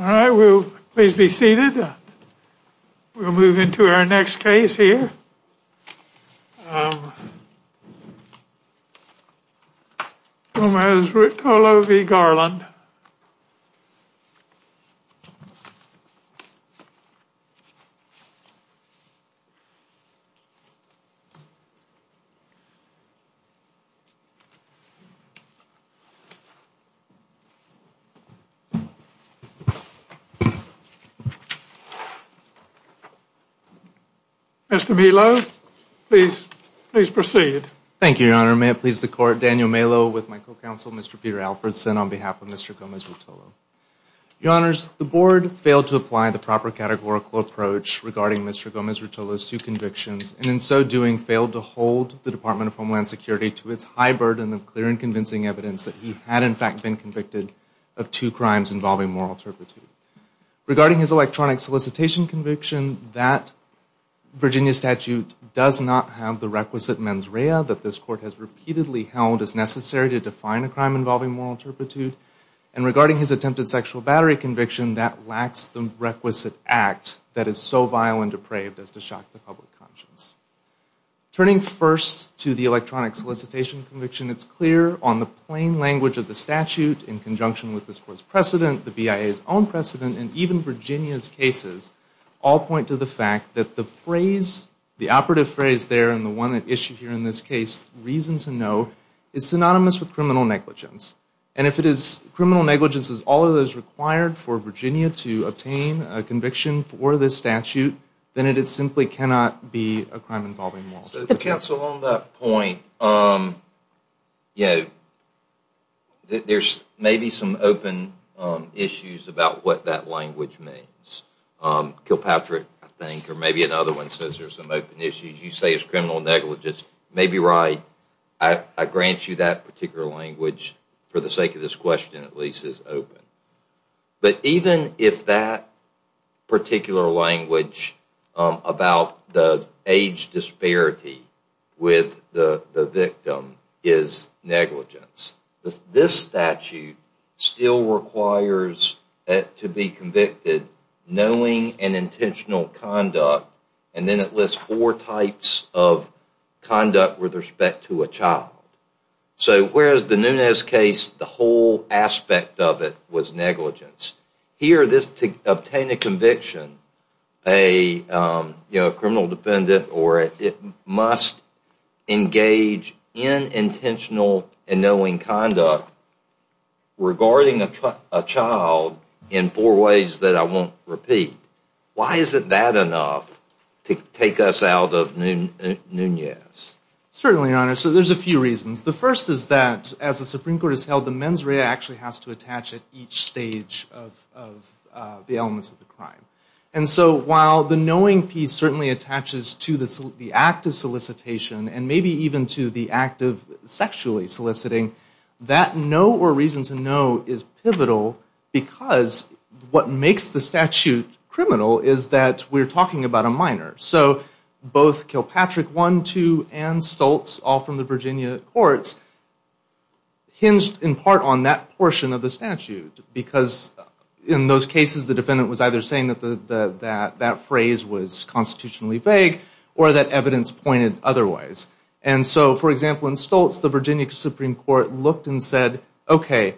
All right, we'll please be seated. We'll move into our next case here. Gomez-Ruotolo v. Garland Mr. Melo, please proceed. Thank you, Your Honor. May it please the Court, Daniel Melo with my co-counsel, Mr. Peter Alfredson, on behalf of Mr. Gomez-Ruotolo. Your Honors, the Board failed to apply the proper categorical approach regarding Mr. Gomez-Ruotolo's two convictions, and in so doing, failed to hold the Department of Homeland Security to its high burden of clear and convincing evidence that he had, in fact, been convicted of two crimes involving moral turpitude. Regarding his electronic solicitation conviction, that Virginia statute does not have the requisite mens rea that this Court has repeatedly held as necessary to define a crime involving moral turpitude, and regarding his attempted sexual battery conviction, that lacks the requisite act that is so vile and depraved as to shock the public conscience. Turning first to the electronic solicitation conviction, it's clear on the plain language of the statute, in conjunction with this Court's precedent, the BIA's own solicitation conviction, that Mr. Gomez-Ruotolo was convicted of two crimes involving moral turpitude. But the long precedent, and even Virginia's cases, all point to the fact that the phrase, the operative phrase there, and the one that's issued here in this case, reason to know, is synonymous with criminal negligence. And if it is criminal negligence is all that is required for Virginia to obtain a conviction for this statute, then it simply cannot be a crime involving moral turpitude. Counsel, on that point, you know, there's maybe some open issues about what that language means. Kilpatrick, I think, or maybe another one says there's some open issues. You say it's criminal negligence. Maybe right. I grant you that particular language, for the sake of this question at least, is open. But even if that particular language about the age disparity with the victim is negligence, this statute still requires it to be convicted knowing an intentional conduct, and then it lists four types of conduct with respect to a child. So whereas the Nunez case, the whole aspect of it was negligence. Here, to obtain a conviction, a criminal defendant must engage in intentional and knowing conduct regarding a child in four ways that I won't repeat. Why isn't that enough to take us out of Nunez? Certainly, Your Honor. So there's a few reasons. The first is that, as the Supreme Court has held, the mens rea actually has to attach at each stage of the elements of the crime. And so while the knowing piece certainly attaches to the act of solicitation and maybe even to the act of sexually soliciting, that know or reason to know is pivotal because what makes the statute criminal is that we're talking about a minor. So both Kilpatrick 1, 2, and Stoltz, all from the Virginia courts, hinged in part on that portion of the statute because in those cases the defendant was either saying that that phrase was constitutionally vague or that evidence pointed otherwise. And so, for example, in Stoltz, the Virginia Supreme Court looked and said, okay,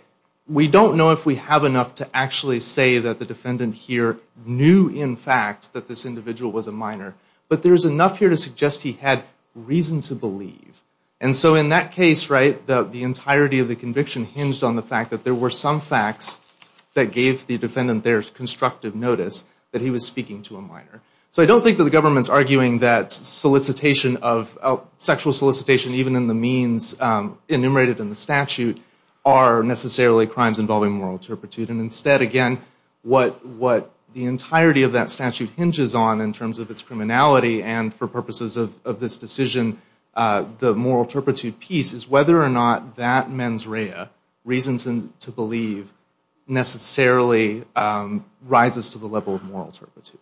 we don't know if we have enough to actually say that the defendant here knew in fact that this individual was a minor, but there's enough here to suggest he had reason to believe. And so in that case, right, the entirety of the conviction hinged on the fact that there were some facts that gave the defendant there constructive notice that he was speaking to a minor. So I don't think that the government's arguing that sexual solicitation, even in the means enumerated in the statute, are necessarily crimes involving moral turpitude. And instead, again, what the entirety of that statute hinges on in terms of its criminality and for purposes of this decision, the moral turpitude piece is whether or not that mens rea, reasons to believe, necessarily rises to the level of moral turpitude.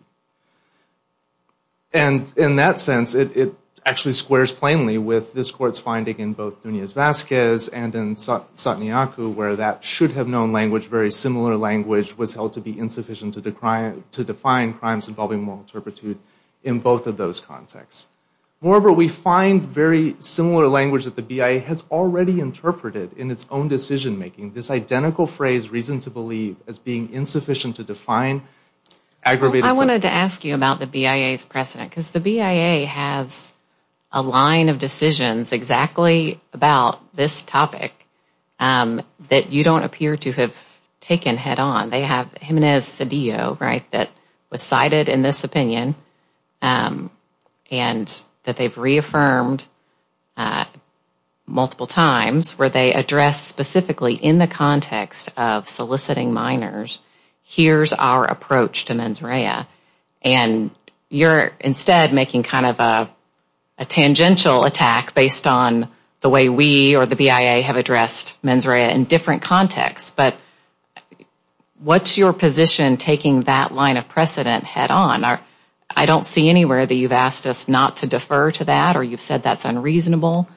And in that sense, it actually squares plainly with this court's finding in both Nunez-Vasquez and in Sotniaku where that should have known language, very similar language, was held to be insufficient to define crimes involving moral turpitude in both of those contexts. Moreover, we find very similar language that the BIA has already interpreted in its own decision making. This identical phrase, reason to believe, as being insufficient to define aggravated crimes. I wanted to ask you about the BIA's precedent, because the BIA has a line of decisions exactly about this topic that you don't appear to have taken head on. They have Jimenez-Cedillo, right, that was cited in this opinion and that they've reaffirmed multiple times where they address specifically in the case that the defendant was speaking to. But in the context of soliciting minors, here's our approach to mens rea. And you're instead making kind of a tangential attack based on the way we or the BIA have addressed mens rea in different contexts. But what's your position taking that line of precedent head on? I don't see anywhere that you've asked us not to defer to that or you've said that's unreasonable.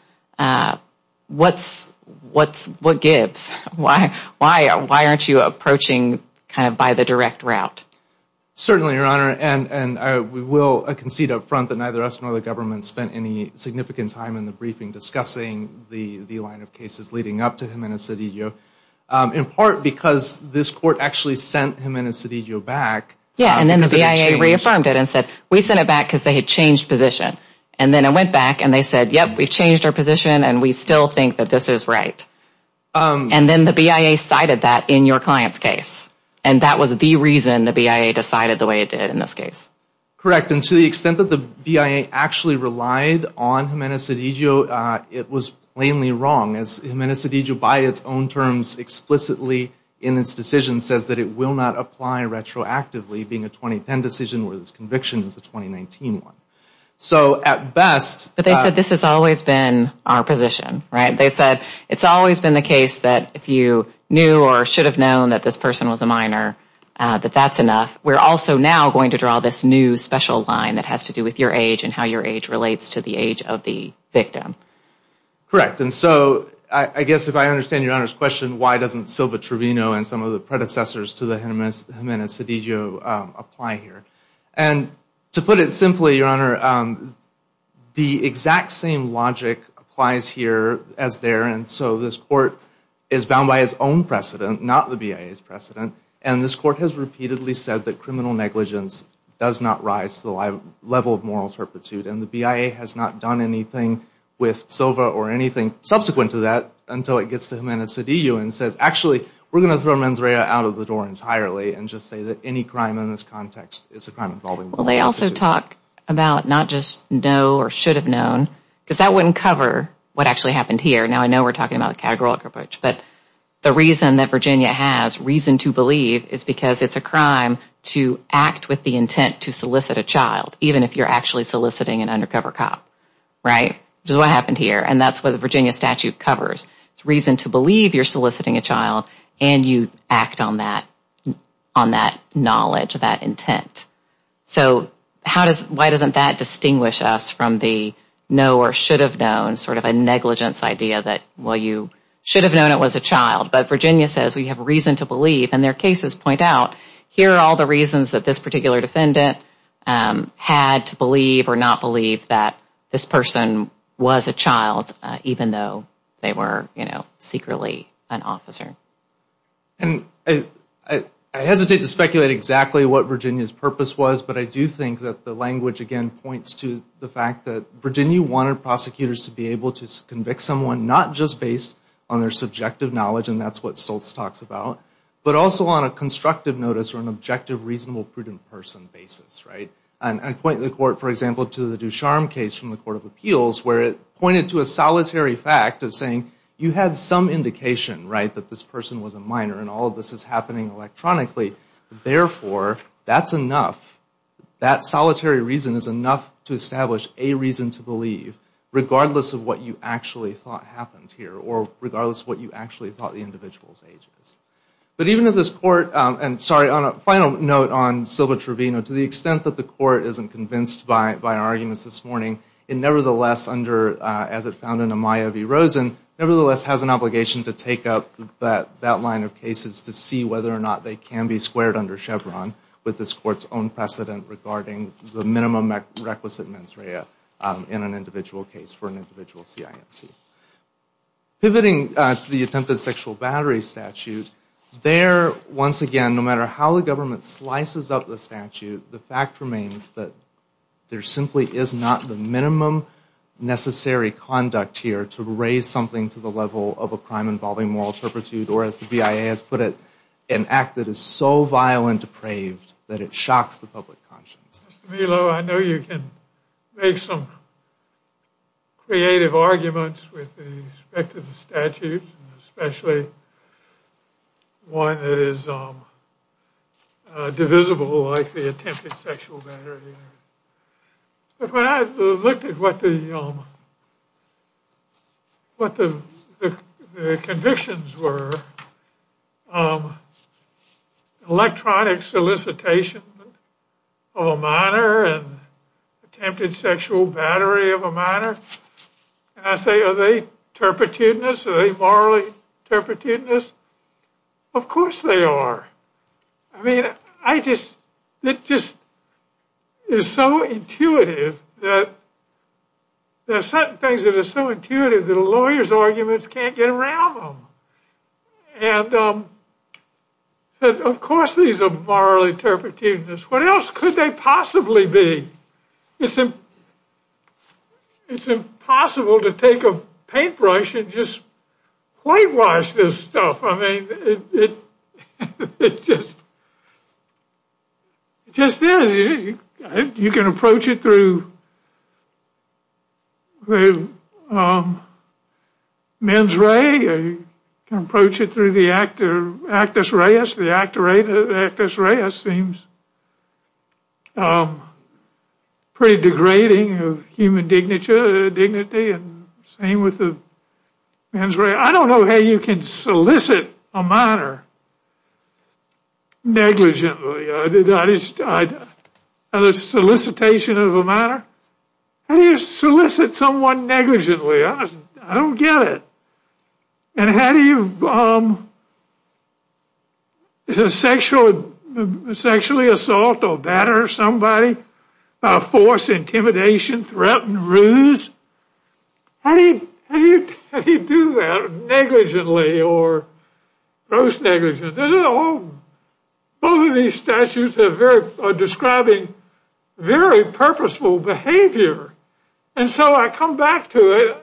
What gives? Why aren't you approaching kind of by the direct route? Certainly, Your Honor, and we will concede up front that neither us nor the government spent any significant time in the briefing discussing the line of cases leading up to Jimenez-Cedillo. In part because this court actually sent Jimenez-Cedillo back. Yeah, and then the BIA reaffirmed it and said, we sent it back because they had changed position. And then it went back and they said, yep, we've changed our position and we still think that this is right. And then the BIA cited that in your client's case, and that was the reason the BIA decided the way it did in this case. Correct, and to the extent that the BIA actually relied on Jimenez-Cedillo, it was plainly wrong. As Jimenez-Cedillo, by its own terms, explicitly in its decision says that it will not apply retroactively, being a 2010 decision where this conviction is a 2019 one. But they said this has always been our position, right? They said it's always been the case that if you knew or should have known that this person was a minor, that that's enough. We're also now going to draw this new special line that has to do with your age and how your age relates to the age of the victim. Correct, and so I guess if I understand your Honor's question, why doesn't Silva-Trevino and some of the predecessors to the Jimenez-Cedillo apply here? And to put it simply, your Honor, the exact same logic applies here as there. And so this court is bound by its own precedent, not the BIA's precedent. And this court has repeatedly said that criminal negligence does not rise to the level of moral turpitude. And the BIA has not done anything with Silva or anything subsequent to that until it gets to Jimenez-Cedillo and says, actually, we're going to throw Manzrella out of the door entirely and just say that any crime in this context is a crime involving moral turpitude. Well, they also talk about not just know or should have known, because that wouldn't cover what actually happened here. Now, I know we're talking about a categorical approach, but the reason that Virginia has reason to believe is because it's a crime to act with the intent to solicit a child, even if you're actually soliciting an undercover cop, right? Which is what happened here. And that's what the Virginia statute covers. It's reason to believe you're soliciting a child and you act on that knowledge, that intent. So why doesn't that distinguish us from the know or should have known sort of a negligence idea that, well, you should have known it was a child. But Virginia says we have reason to believe, and their cases point out, here are all the reasons that this particular defendant had to believe or not believe that this person was a child, even though they were, you know, secretly an officer. I hesitate to speculate exactly what Virginia's purpose was, but I do think that the language, again, points to the fact that Virginia wanted prosecutors to be able to convict someone, not just based on their subjective knowledge, and that's what Stoltz talks about, but also on a constructive notice or an objective, reasonable, prudent person basis, right? And I point the court, for example, to the Ducharme case from the Court of Appeals, where it pointed to a solitary fact of saying you had some indication, right, that this person was a minor, and all of this is happening electronically. Therefore, that's enough. That solitary reason is enough to establish a reason to believe, regardless of what you actually thought happened. Or regardless of what you actually thought the individual's age was. But even if this court, and sorry, on a final note on Silva Trevino, to the extent that the court isn't convinced by our arguments this morning, it nevertheless, as it found in Amaya v. Rosen, nevertheless has an obligation to take up that line of cases to see whether or not they can be squared under Chevron, with this court's own precedent regarding the minimum requisite mens rea in an individual case for an individual CIMT. Pivoting to the attempted sexual battery statute, there, once again, no matter how the government slices up the statute, the fact remains that there simply is not the minimum necessary conduct here to raise something to the level of a crime involving moral turpitude, or as the BIA has put it, an act that is so violent, depraved, that it shocks the public conscience. Mr. Melo, I know you can make some creative arguments with respect to the statute, especially one that is divisible like the attempted sexual battery. But when I looked at what the convictions were, electronic solicitation of Amaya, attempted sexual battery of a minor, and I say, are they turpitudinous, are they morally turpitudinous? Of course they are. I mean, it just is so intuitive that there are certain things that are so intuitive that a lawyer's arguments can't get around them. And of course these are morally turpitudinous. What else could they possibly be? It's impossible to take a paintbrush and just whitewash this stuff. It just is. You can approach it through mens rea, you can approach it through the actus reus, pretty degrading of human dignity. I don't know how you can solicit a minor negligently. A solicitation of a minor? How do you solicit someone negligently? I don't get it. And how do you sexually assault or batter somebody, force intimidation, threaten, ruse? How do you do that negligently or gross negligence? Both of these statutes are describing very purposeful behavior. And so I come back to it.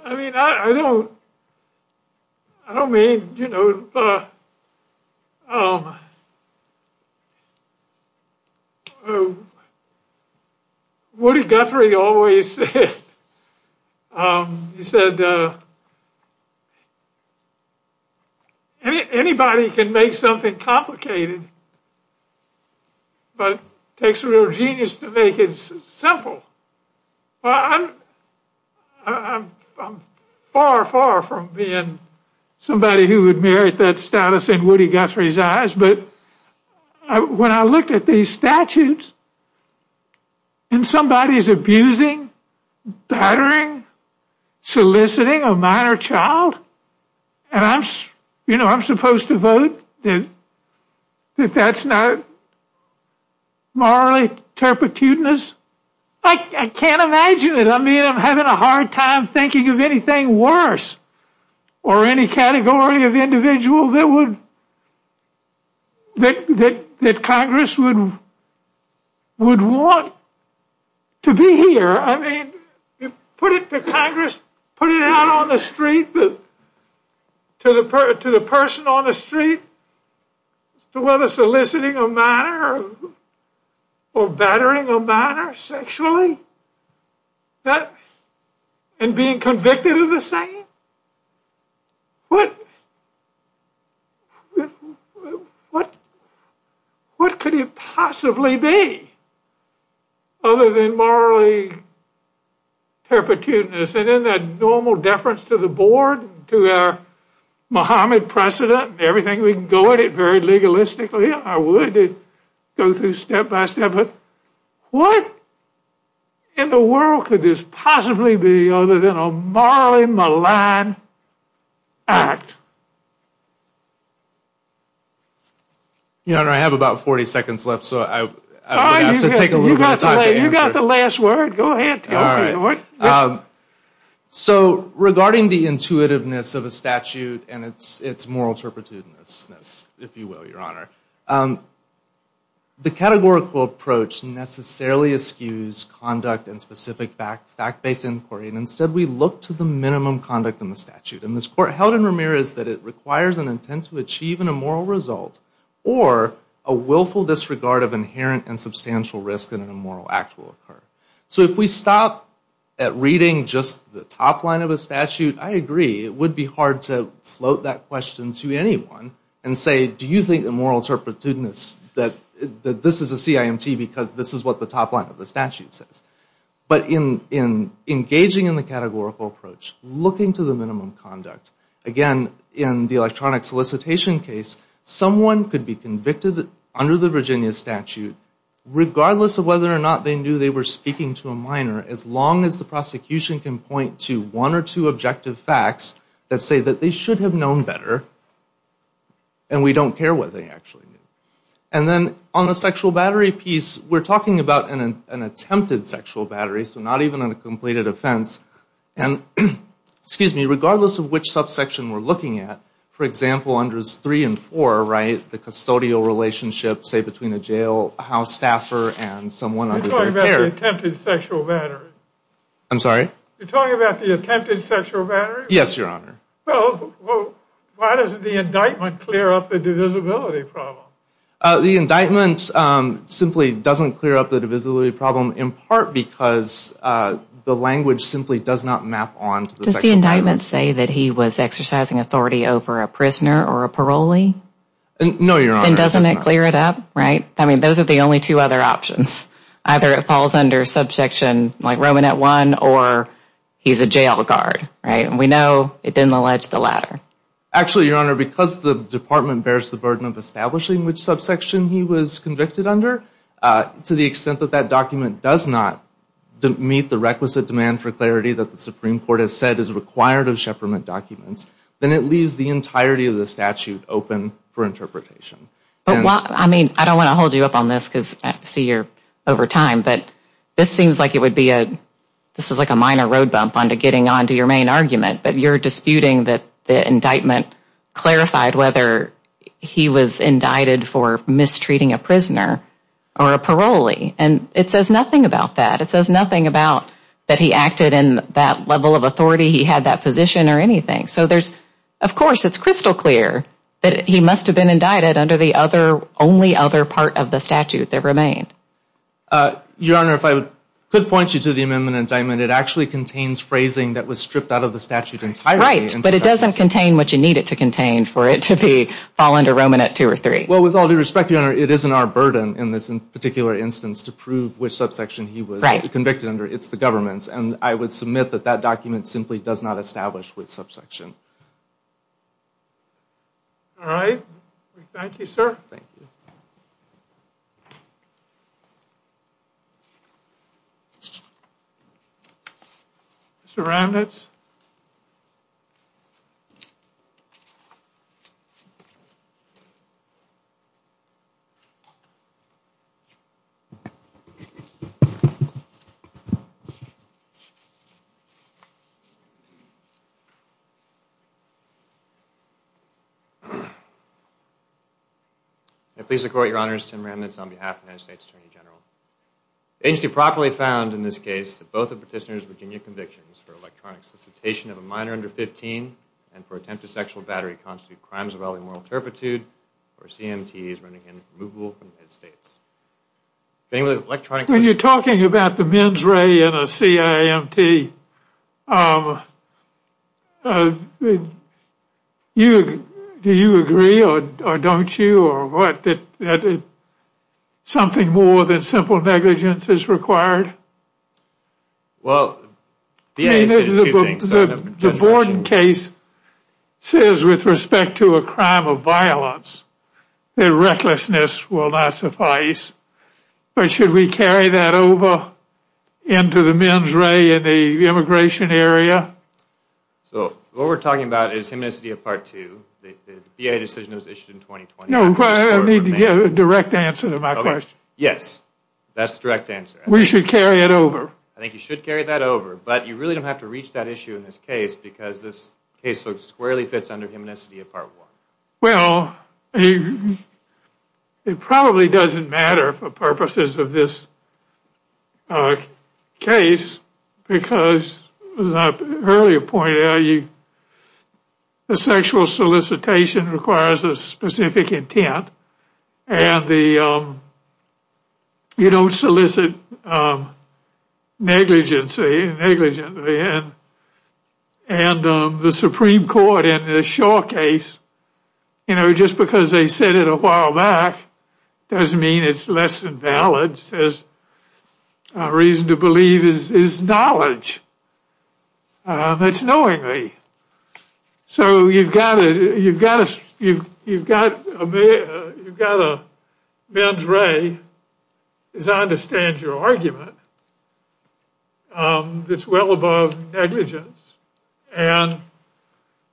Woody Guthrie always said, anybody can make something complicated, but it takes a real genius to make it simple. I'm far, far from being somebody who would merit that status in Woody Guthrie's eyes, but when I looked at these statutes, and somebody's abusing, battering, soliciting a minor child, and I'm supposed to vote that that's not morally turpitudinous, I can't imagine it. I mean, I'm having a hard time thinking of anything worse or any category of individual that Congress would want to be here. I mean, you put it to Congress, put it out on the street, to the person on the street, to whether soliciting a minor or battering a minor sexually, and being convicted of the same? What could it possibly be other than morally turpitudinous? And in that normal deference to the board, to our Mohammed precedent, everything we can go at it very legalistically, I would go through step by step, but what in the world could this possibly be other than a morally malign act? Your Honor, I have about 40 seconds left, so I would ask to take a little bit of time to answer. You've got the last word. Go ahead. So, regarding the intuitiveness of a statute and its moral turpitudinousness, if you will, Your Honor, the categorical approach necessarily eschews conduct and specific fact-based inquiry, and instead we look to the minimum conduct in the statute. And this Court held in Ramirez that it requires an intent to achieve an immoral result or a willful disregard of inherent and substantial risk that an immoral act will occur. So if we stop at reading just the top line of a statute, I agree, it would be hard to float that question to anyone and say, do you think the moral turpitudinousness, that this is a CIMT because this is what the top line of the statute says. But in engaging in the categorical approach, looking to the minimum conduct, again, in the electronic solicitation case, someone could be convicted under the Virginia statute, regardless of whether or not they knew they were speaking to a minor, as long as the prosecution can point to one or two objective facts that say that they should have known better and we don't care what they actually knew. And then on the sexual battery piece, we're talking about an attempted sexual battery, so not even on a completed offense. And regardless of which subsection we're looking at, for example, under 3 and 4, right, the custodial relationship, say, between a jailhouse staffer and someone under their care. You're talking about the attempted sexual battery. I'm sorry? You're talking about the attempted sexual battery? Yes, Your Honor. Well, why doesn't the indictment clear up the divisibility problem? The indictment simply doesn't clear up the divisibility problem, in part because the language simply does not map on to the sexual battery. Does the indictment say that he was exercising authority over a prisoner or a parolee? No, Your Honor. Then doesn't it clear it up, right? I mean, those are the only two other options. Either it falls under subsection, like Roman at 1, or he's a jail guard, right? And we know it didn't allege the latter. Actually, Your Honor, because the Department bears the burden of establishing which subsection he was convicted under, to the extent that that document does not meet the requisite demand for clarity that the Supreme Court has said is required of Shepardment documents, then it leaves the entirety of the statute open for interpretation. I mean, I don't want to hold you up on this, because I see you're over time, but this seems like it would be a, this is like a minor road bump on to getting on to your main argument, but you're disputing that the indictment clarified whether he was indicted for mistreating a prisoner or a parolee, and it says nothing about that. It says nothing about that he acted in that level of authority, he had that position or anything. So there's, of course, it's crystal clear that he must have been indicted under the only other part of the statute that remained. Your Honor, if I could point you to the amendment indictment, it actually contains phrasing that was stripped out of the statute entirely. Right, but it doesn't contain what you need it to contain for it to be fall under Roman at 2 or 3. Well, with all due respect, Your Honor, it isn't our burden in this particular instance to prove which subsection he was convicted under, it's the government's, and I would submit that that document simply does not establish which subsection. All right. Thank you, sir. Thank you. Mr. Ramnitz? I please report, Your Honor, it's Tim Ramnitz on behalf of the United States Attorney General. The agency properly found in this case that both the petitioner's Virginia convictions for electronic solicitation of a minor under 15 and for attempted sexual battery constitute crimes of either moral turpitude or CMT's, running in removable from the United States. When you're talking about the men's ray in a C.I.A. and the men's ray in a C.I.A., CMT, do you agree or don't you or what that something more than simple negligence is required? Well, the agency did two things. The Borden case says with respect to a crime of violence that recklessness will not suffice, but should we carry that over into the men's ray in the immigration area? So what we're talking about is the immensity of Part 2. The B.A. decision was issued in 2020. No, but I need to get a direct answer to my question. Yes, that's the direct answer. We should carry it over. I think you should carry that over, but you really don't have to reach that issue in this case because this case looks squarely fits under immensity of Part 1. Well, it probably doesn't matter for purposes of this case because as I earlier pointed out, the sexual solicitation requires a specific intent and you don't solicit negligence. And the Supreme Court in the Shaw case, you know, just because they said it a while back doesn't mean it's less than valid. There's a reason to believe is knowledge. That's knowingly. So you've got a men's ray. As I understand your argument, it's well above negligence. And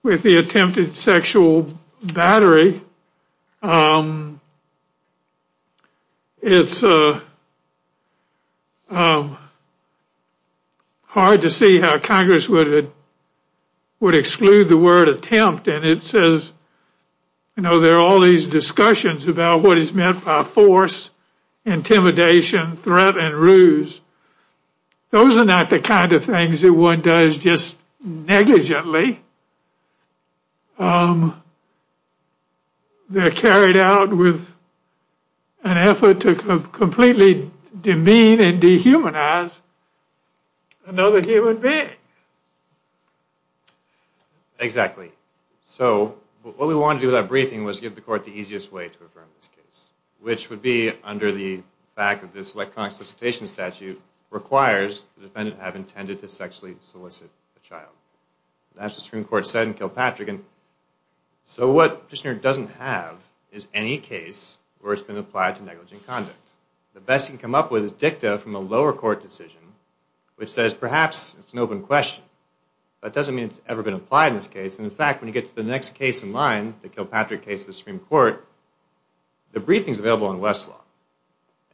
with the attempted sexual battery, it's hard to see how Congress would exclude the word attempt. And it says, you know, there are all these discussions about what is meant by force, intimidation, threat, and ruse. Those are not the kind of things that one does just negligently. They're carried out with an effort to completely demean and dehumanize another human being. Exactly. So what we wanted to do with that briefing was give the court the easiest way to affirm this case, which would be under the fact that this electronic solicitation statute requires the defendant to have intended to sexually solicit a child. That's what the Supreme Court said in Kilpatrick. So what the petitioner doesn't have is any case where it's been applied to negligent conduct. The best he can come up with is dicta from a lower court decision, which says perhaps it's an open question. That doesn't mean it's ever been applied in this case. And, in fact, when you get to the next case in line, the Kilpatrick case in the Supreme Court, the briefing's available in Westlaw.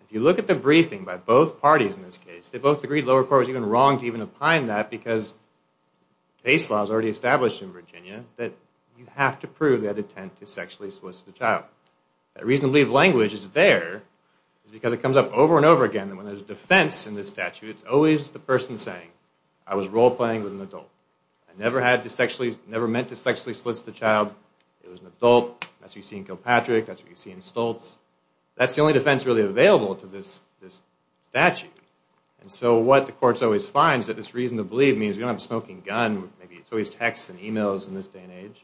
If you look at the briefing by both parties in this case, they both agreed the lower court was even wrong to even opine that because base law is already established in Virginia that you have to prove that attempt to sexually solicit a child. The reason to believe language is there is because it comes up over and over again. And when there's defense in this statute, it's always the person saying, I was role-playing with an adult. I never meant to sexually solicit a child. It was an adult. That's what you see in Kilpatrick. That's what you see in Stoltz. That's the only defense really available to this statute. And so what the courts always find is that this reason to believe means we don't have a smoking gun. Maybe it's always texts and emails in this day and age.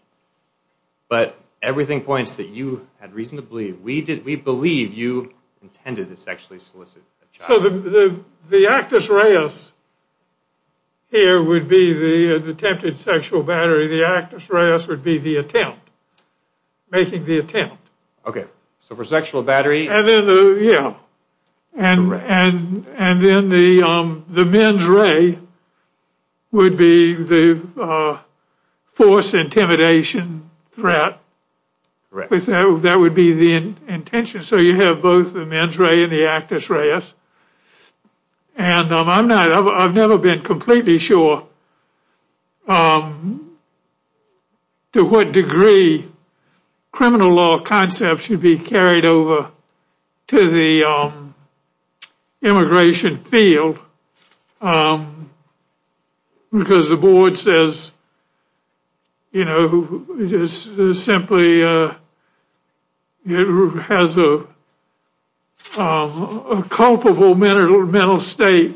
But everything points that you had reason to believe. We believe you intended to sexually solicit a child. So the actus reus here would be the attempted sexual battery. The actus reus would be the attempt, making the attempt. Okay. So for sexual battery. Yeah. And then the mens rea would be the forced intimidation threat. Correct. That would be the intention. So you have both the mens rea and the actus reus. And I've never been completely sure to what degree criminal law concepts should be carried over to the immigration field because the board says, you know, simply has a culpable mental state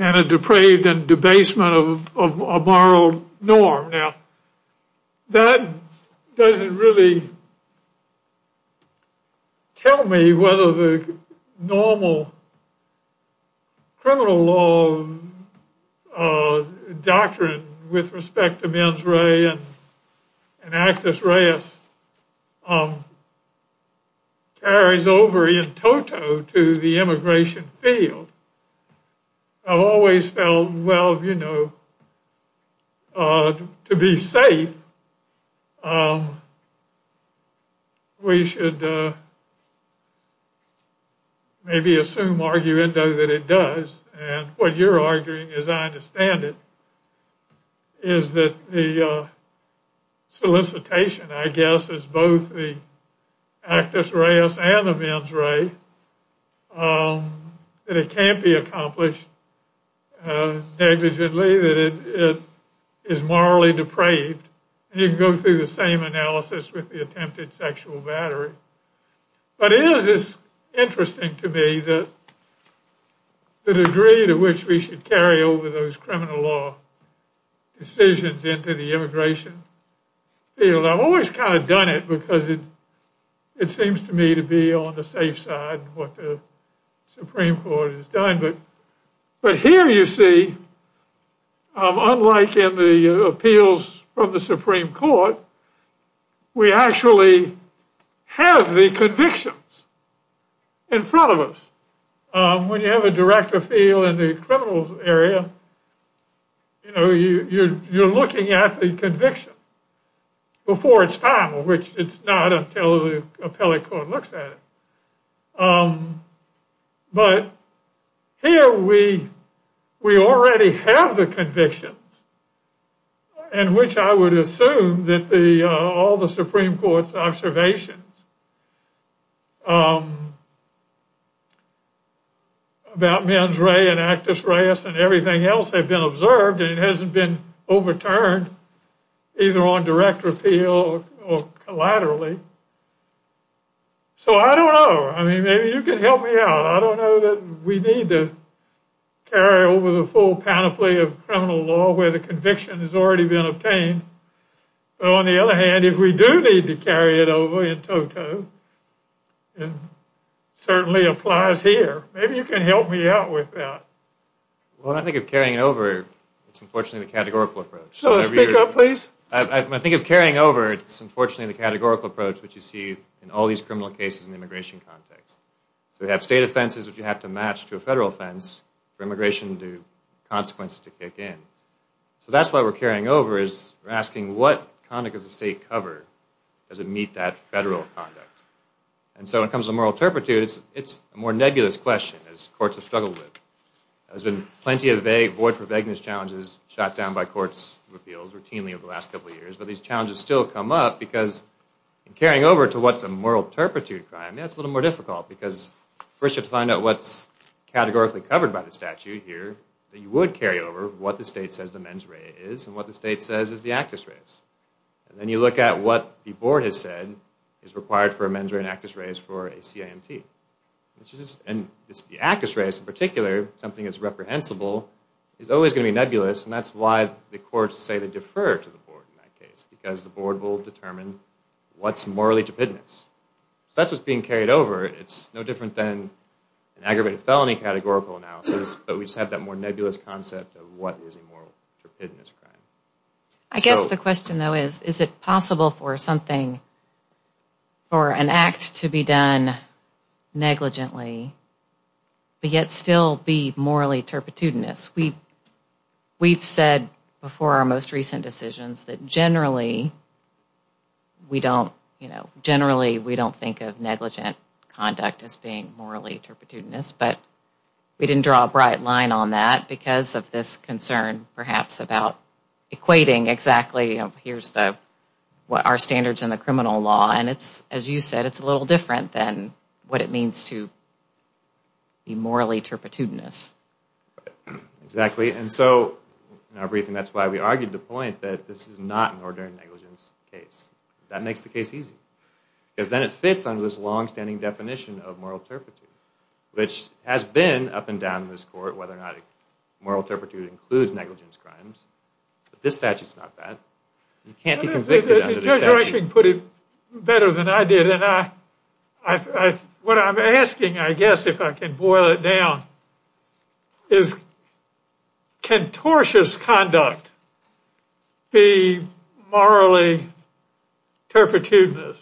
and a depraved and debasement of a moral norm. Now, that doesn't really tell me whether the normal criminal law doctrine with respect to mens rea and actus reus carries over in toto to the immigration field. I've always felt, well, you know, to be safe, we should maybe assume, arguendo, that it does. And what you're arguing, as I understand it, is that the solicitation, I guess, is both the actus reus and the mens rea, that it can't be accomplished negligently, that it is morally depraved. And you can go through the same analysis with the attempted sexual battery. But it is interesting to me the degree to which we should carry over those criminal law decisions into the immigration field. I've always kind of done it because it seems to me to be on the safe side, what the Supreme Court has done. But here you see, unlike in the appeals from the Supreme Court, we actually have the convictions in front of us. When you have a director field in the criminal area, you know, you're looking at the conviction before it's time, which it's not until the appellate court looks at it. But here we already have the convictions in which I would assume that all the Supreme Court's observations about mens rea and actus reus and everything else have been observed and it hasn't been overturned either on direct appeal or collaterally. So I don't know. I mean, maybe you can help me out. I don't know that we need to carry over the full panoply of criminal law where the conviction has already been obtained. But on the other hand, if we do need to carry it over in toto, it certainly applies here. Maybe you can help me out with that. When I think of carrying it over, it's unfortunately the categorical approach. Speak up, please. When I think of carrying over, it's unfortunately the categorical approach which you see in all these criminal cases in the immigration context. So we have state offenses which you have to match to a federal offense for immigration consequences to kick in. So that's why we're carrying over is we're asking what conduct does the state cover does it meet that federal conduct. And so when it comes to moral turpitude, it's a more nebulous question as courts have struggled with. There's been plenty of void for vagueness challenges shot down by courts' appeals routinely over the last couple of years. But these challenges still come up because in carrying over to what's a moral turpitude crime, that's a little more difficult because first you have to find out what's categorically covered by the statute here that you would carry over what the state says the mens rea is and what the state says is the actus res. And then you look at what the board has said is required for a mens rea and actus res for a CIMT. And the actus res, in particular, something that's reprehensible is always going to be nebulous and that's why the courts say to defer to the board in that case because the board will determine what's morally turpidness. So that's what's being carried over. It's no different than an aggravated felony categorical analysis, but we just have that more nebulous concept of what is a moral turpidness crime. I guess the question though is, is it possible for something, for an act to be done negligently but yet still be morally turpidness? We've said before our most recent decisions that generally we don't, you know, generally we don't think of negligent conduct as being morally turpidness, but we didn't draw a bright line on that because of this concern perhaps about equating exactly, you know, here's the, what are standards in the criminal law and it's, as you said, it's a little different than what it means to be morally turpidness. Exactly, and so in our briefing that's why we argued the point that this is not an ordinary negligence case. That makes the case easy because then it fits under this longstanding definition of moral turpidness, which has been up and down in this court whether or not moral turpidness includes negligence crimes. This statute's not that. You can't be convicted under this statute. The judge actually put it better than I did, and I, what I'm asking, I guess, if I can boil it down, is can tortious conduct be morally turpidness?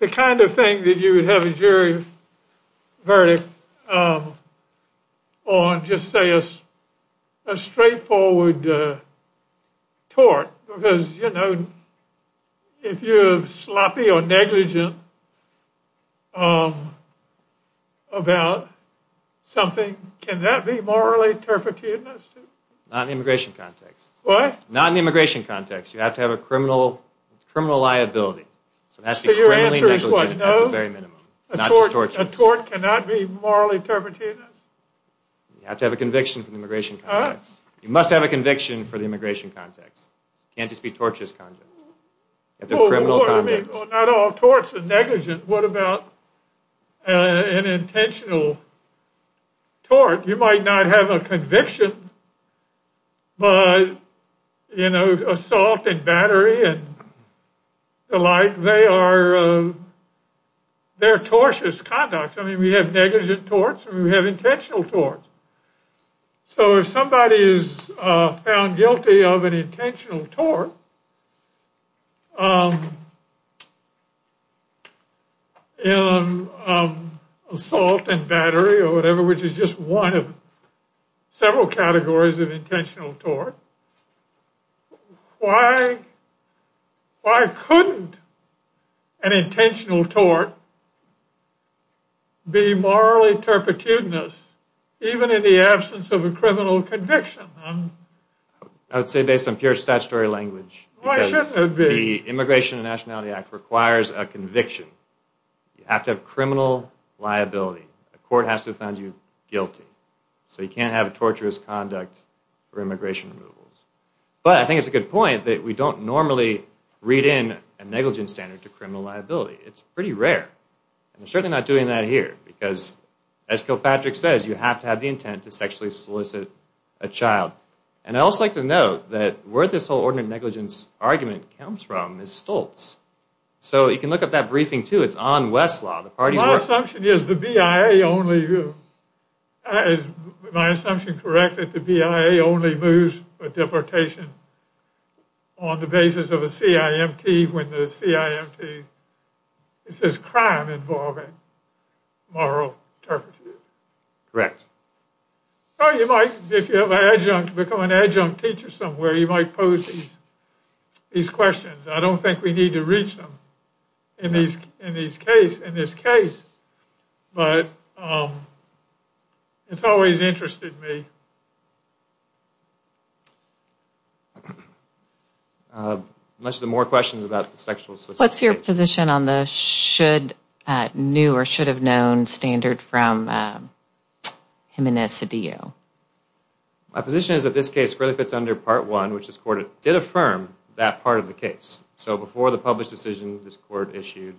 The kind of thing that you would have a jury verdict on, I'd just say a straightforward tort because, you know, if you're sloppy or negligent about something, can that be morally turpidness? Not in the immigration context. What? Not in the immigration context. You have to have a criminal liability. So your answer is what, no? At the very minimum. A tort cannot be morally turpidness? You have to have a conviction for the immigration context. You must have a conviction for the immigration context. It can't just be tortious conduct. You have to have criminal conduct. Well, not all torts are negligent. What about an intentional tort? You might not have a conviction, but, you know, assault and battery and the like, they are tortious conduct. I mean, we have negligent torts and we have intentional torts. So if somebody is found guilty of an intentional tort, assault and battery or whatever, which is just one of several categories of intentional tort, why couldn't an intentional tort be morally turpidness even in the absence of a criminal conviction? I would say based on pure statutory language. Why shouldn't it be? Because the Immigration and Nationality Act requires a conviction. You have to have criminal liability. A court has to have found you guilty. So you can't have tortuous conduct for immigration removals. But I think it's a good point that we don't normally read in a negligence standard to criminal liability. It's pretty rare. And we're certainly not doing that here because, as Kilpatrick says, you have to have the intent to sexually solicit a child. And I'd also like to note that where this whole ordinary negligence argument comes from is Stoltz. So you can look up that briefing, too. It's on Westlaw. My assumption is the BIA only, is my assumption correct, that the BIA only moves a deportation on the basis of a CIMT when the CIMT says crime involving moral turpitude? Correct. Or you might, if you have an adjunct, become an adjunct teacher somewhere, you might pose these questions. I don't think we need to read them in this case. But it's always interested me. Unless there are more questions about the sexual assistance case. What's your position on the should, new or should have known standard from Jimenez-Cedillo? My position is that this case really fits under Part 1, which this court did affirm that part of the case. So before the published decision this court issued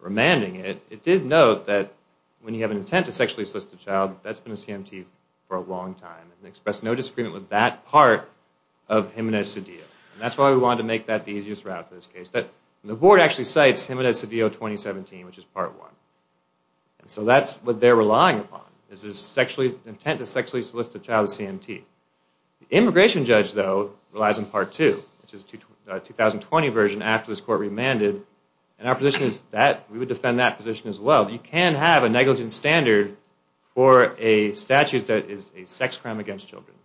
remanding it, it did note that when you have an intent to sexually solicit a child, that's been a CIMT for a long time, and expressed no disagreement with that part of Jimenez-Cedillo. And that's why we wanted to make that the easiest route for this case. But the board actually cites Jimenez-Cedillo 2017, which is Part 1. So that's what they're relying upon, is the intent to sexually solicit a child is CIMT. The immigration judge, though, relies on Part 2, which is the 2020 version after this court remanded. And our position is that we would defend that position as well. You can have a negligence standard for a statute that is a sex crime against children.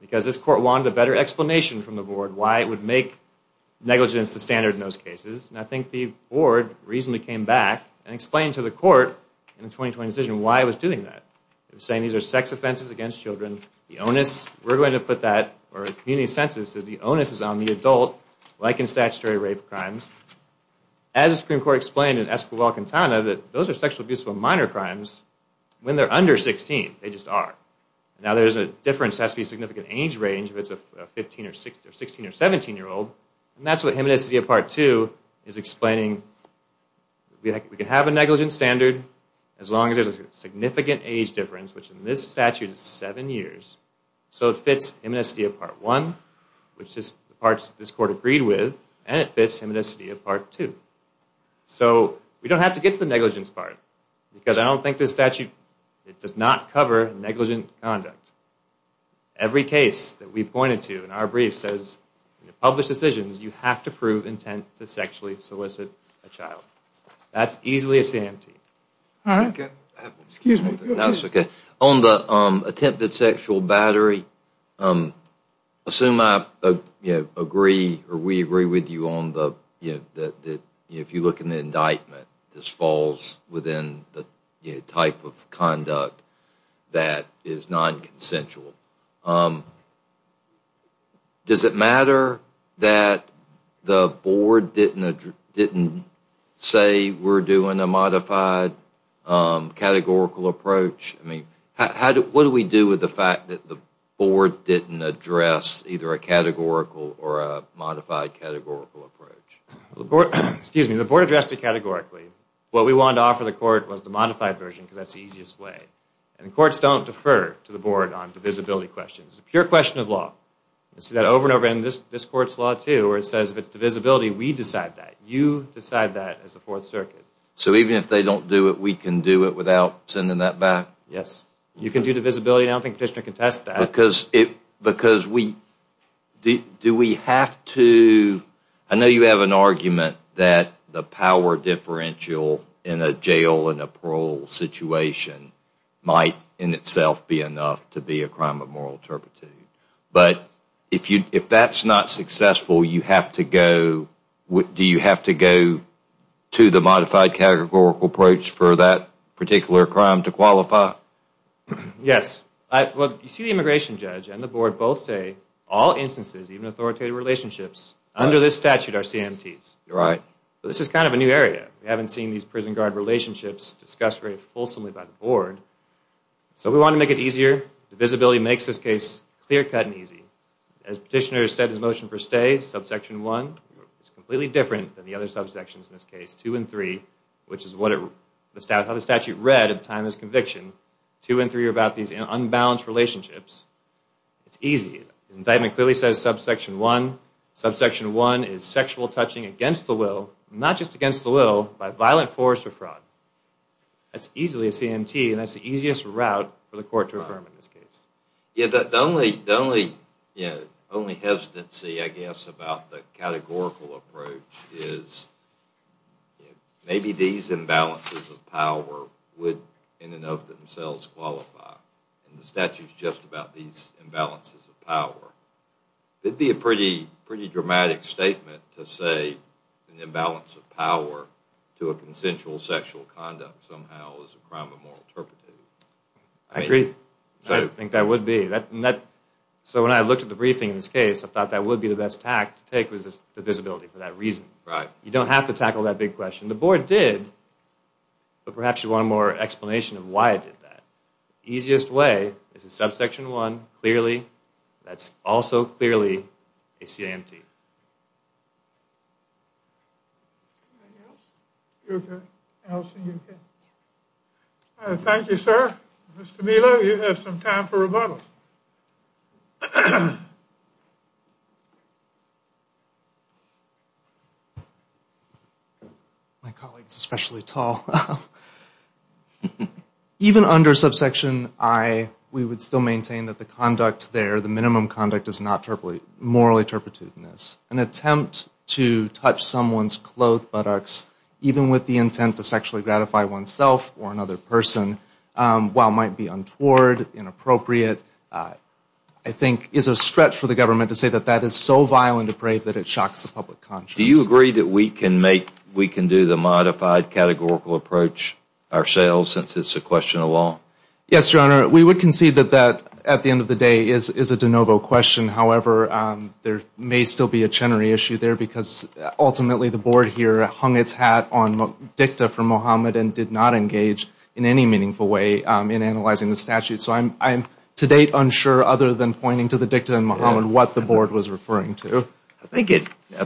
Because this court wanted a better explanation from the board why it would make negligence the standard in those cases. And I think the board reasonably came back and explained to the court in the 2020 decision why it was doing that. It was saying these are sex offenses against children. The onus, we're going to put that, or the community census says the onus is on the adult, like in statutory rape crimes. As the Supreme Court explained in Escobar-Quintana, that those are sexual abuse for minor crimes when they're under 16. They just are. Now there's a difference that has to be a significant age range, if it's a 15 or 16 or 17-year-old. And that's what Jimenez-Cedillo Part 2 is explaining. We can have a negligence standard as long as there's a significant age difference, which in this statute is seven years. So it fits Jimenez-Cedillo Part 1, which is the parts that this court agreed with, and it fits Jimenez-Cedillo Part 2. So we don't have to get to the negligence part, because I don't think this statute, it does not cover negligent conduct. Every case that we've pointed to in our brief says in published decisions, you have to prove intent to sexually solicit a child. That's easily a CMT. Excuse me. On the attempted sexual battery, assume I agree or we agree with you on the, if you look in the indictment, this falls within the type of conduct that is nonconsensual. Does it matter that the board didn't say we're doing a modified categorical approach? I mean, what do we do with the fact that the board didn't address either a categorical or a modified categorical approach? Excuse me. The board addressed it categorically. What we wanted to offer the court was the modified version, because that's the easiest way. And courts don't defer to the board on divisibility questions. It's a pure question of law. You see that over and over in this court's law, too, where it says if it's divisibility, we decide that. You decide that as the Fourth Circuit. So even if they don't do it, we can do it without sending that back? Yes. You can do divisibility, and I don't think the petitioner can test that. Because we, do we have to, I know you have an argument that the power differential in a jail and a parole situation might in itself be enough to be a crime of moral turpitude. But if that's not successful, you have to go, do you have to go to the modified categorical approach for that particular crime to qualify? Yes. You see the immigration judge and the board both say all instances, even authoritative relationships, under this statute are CMTs. Right. This is kind of a new area. We haven't seen these prison guard relationships discussed very fulsomely by the board. So we want to make it easier. Divisibility makes this case clear-cut and easy. As petitioner has said in his motion for stay, subsection 1 is completely different than the other subsections in this case, 2 and 3, which is how the statute read at the time of his conviction. 2 and 3 are about these unbalanced relationships. It's easy. The indictment clearly says subsection 1. Subsection 1 is sexual touching against the will, not just against the will, by violent force or fraud. That's easily a CMT, and that's the easiest route for the court to affirm in this case. The only hesitancy, I guess, about the categorical approach is maybe these imbalances of power would in and of themselves qualify. It would be a pretty dramatic statement to say an imbalance of power to a consensual sexual conduct somehow is a crime of moral turpitude. I agree. I think that would be. So when I looked at the briefing in this case, I thought that would be the best tact to take was divisibility for that reason. Right. You don't have to tackle that big question. The board did, but perhaps you want a more explanation of why it did that. The easiest way is that subsection 1 clearly, that's also clearly a CMT. Thank you, sir. Mr. Vila, you have some time for rebuttal. My colleague is especially tall. Even under subsection I, we would still maintain that the conduct there, the minimum conduct is not morally turpitudinous. An attempt to touch someone's clothed buttocks, even with the intent to sexually gratify oneself or another person, while it might be untoward, inappropriate, I think is a stretch for the government to say that that is so violently depraved that it shocks the public conscience. Do you agree that we can do the modified categorical approach ourselves since it's a question of law? Yes, Your Honor. We would concede that that, at the end of the day, is a de novo question. However, there may still be a Chenery issue there because ultimately the board here hung its hat on dicta for Mohammed and did not engage in any meaningful way in analyzing the statute. So I'm to date unsure, other than pointing to the dicta in Mohammed, what the board was referring to. I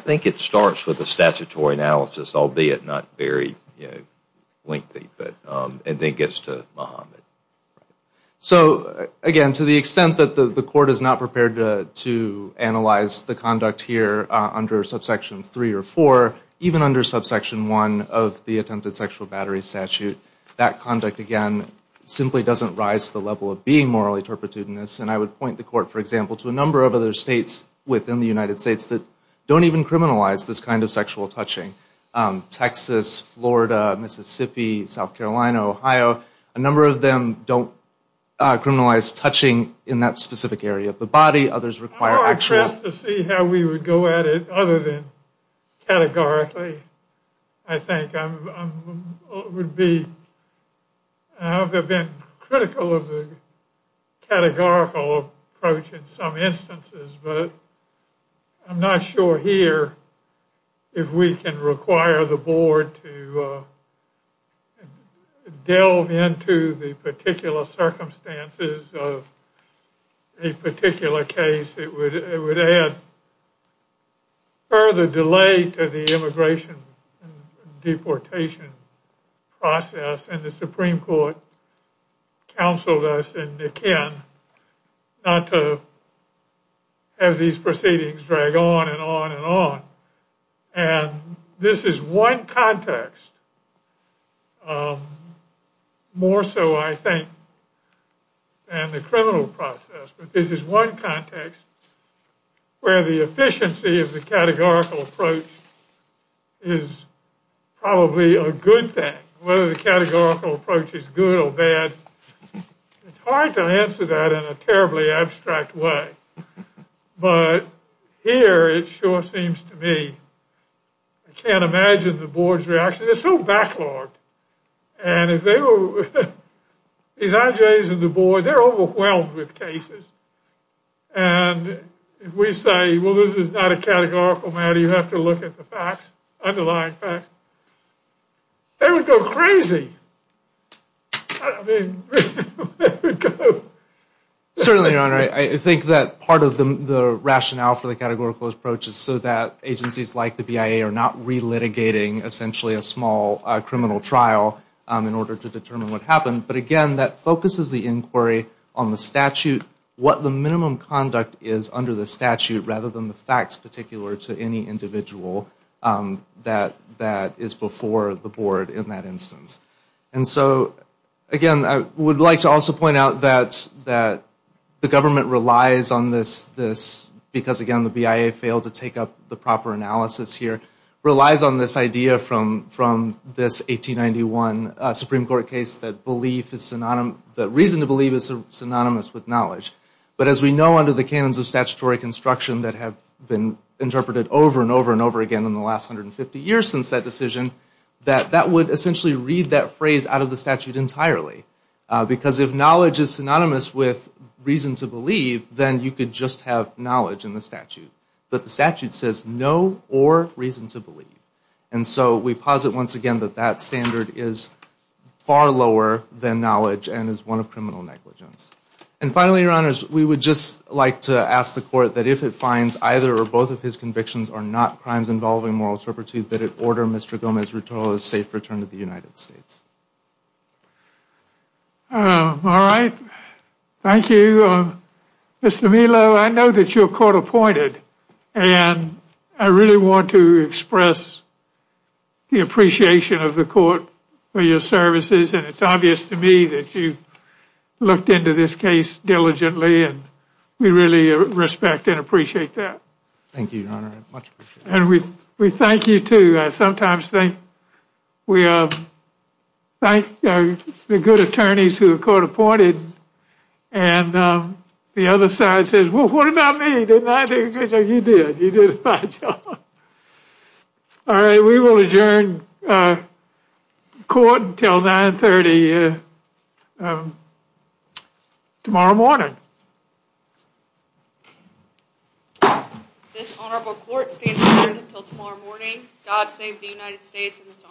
think it starts with a statutory analysis, albeit not very lengthy, and then gets to Mohammed. So, again, to the extent that the court is not prepared to analyze the conduct here under subsection 3 or 4, even under subsection 1 of the attempted sexual battery statute, that conduct, again, simply doesn't rise to the level of being morally turpitudinous. And I would point the court, for example, to a number of other states within the United States that don't even criminalize this kind of sexual touching. Texas, Florida, Mississippi, South Carolina, Ohio, a number of them don't criminalize touching in that specific area of the body. Others require actual... I'm not impressed to see how we would go at it other than categorically. I think I would be... I've been critical of the categorical approach in some instances, but I'm not sure here if we can require the board to delve into the particular circumstances of a particular case. It would add further delay to the immigration and deportation process, and the Supreme Court counseled us, and again, not to have these proceedings drag on and on and on. And this is one context, more so, I think, than the criminal process. But this is one context where the efficiency of the categorical approach is probably a good thing. Whether the categorical approach is good or bad, it's hard to answer that in a terribly abstract way. But here, it sure seems to me, I can't imagine the board's reaction. They're so backlogged. And if they were... These IJs and the board, they're overwhelmed with cases. And if we say, well, this is not a categorical matter, you have to look at the facts, underlying facts, they would go crazy. I mean, they would go... Certainly, Your Honor, I think that part of the rationale for the categorical approach is so that agencies like the BIA are not relitigating, essentially, a small criminal trial in order to determine what happened. But again, that focuses the inquiry on the statute, what the minimum conduct is under the statute, rather than the facts particular to any individual that is before the board in that instance. And so, again, I would like to also point out that the government relies on this because, again, the BIA failed to take up the proper analysis here, relies on this idea from this 1891 Supreme Court case that reason to believe is synonymous with knowledge. But as we know under the canons of statutory construction that have been interpreted over and over and over again in the last 150 years since that decision, that that would essentially read that phrase out of the statute entirely. Because if knowledge is synonymous with reason to believe, then you could just have knowledge in the statute. But the statute says no or reason to believe. And so we posit once again that that standard is far lower than knowledge and is one of criminal negligence. And finally, Your Honors, we would just like to ask the court that if it finds either or both of his convictions are not crimes involving moral turpitude, that it order Mr. Gomez-Rutolo's safe return to the United States. All right. Thank you. Mr. Melo, I know that you're court appointed, and I really want to express the appreciation of the court for your services. And it's obvious to me that you looked into this case diligently, and we really respect and appreciate that. Thank you, Your Honor. I much appreciate it. And we thank you, too. Sometimes we thank the good attorneys who are court appointed, and the other side says, well, what about me? Didn't I do a good job? You did. You did a fine job. All right. We will adjourn court until 930 tomorrow morning. This honorable court stands adjourned until tomorrow morning. God save the United States and this honorable court.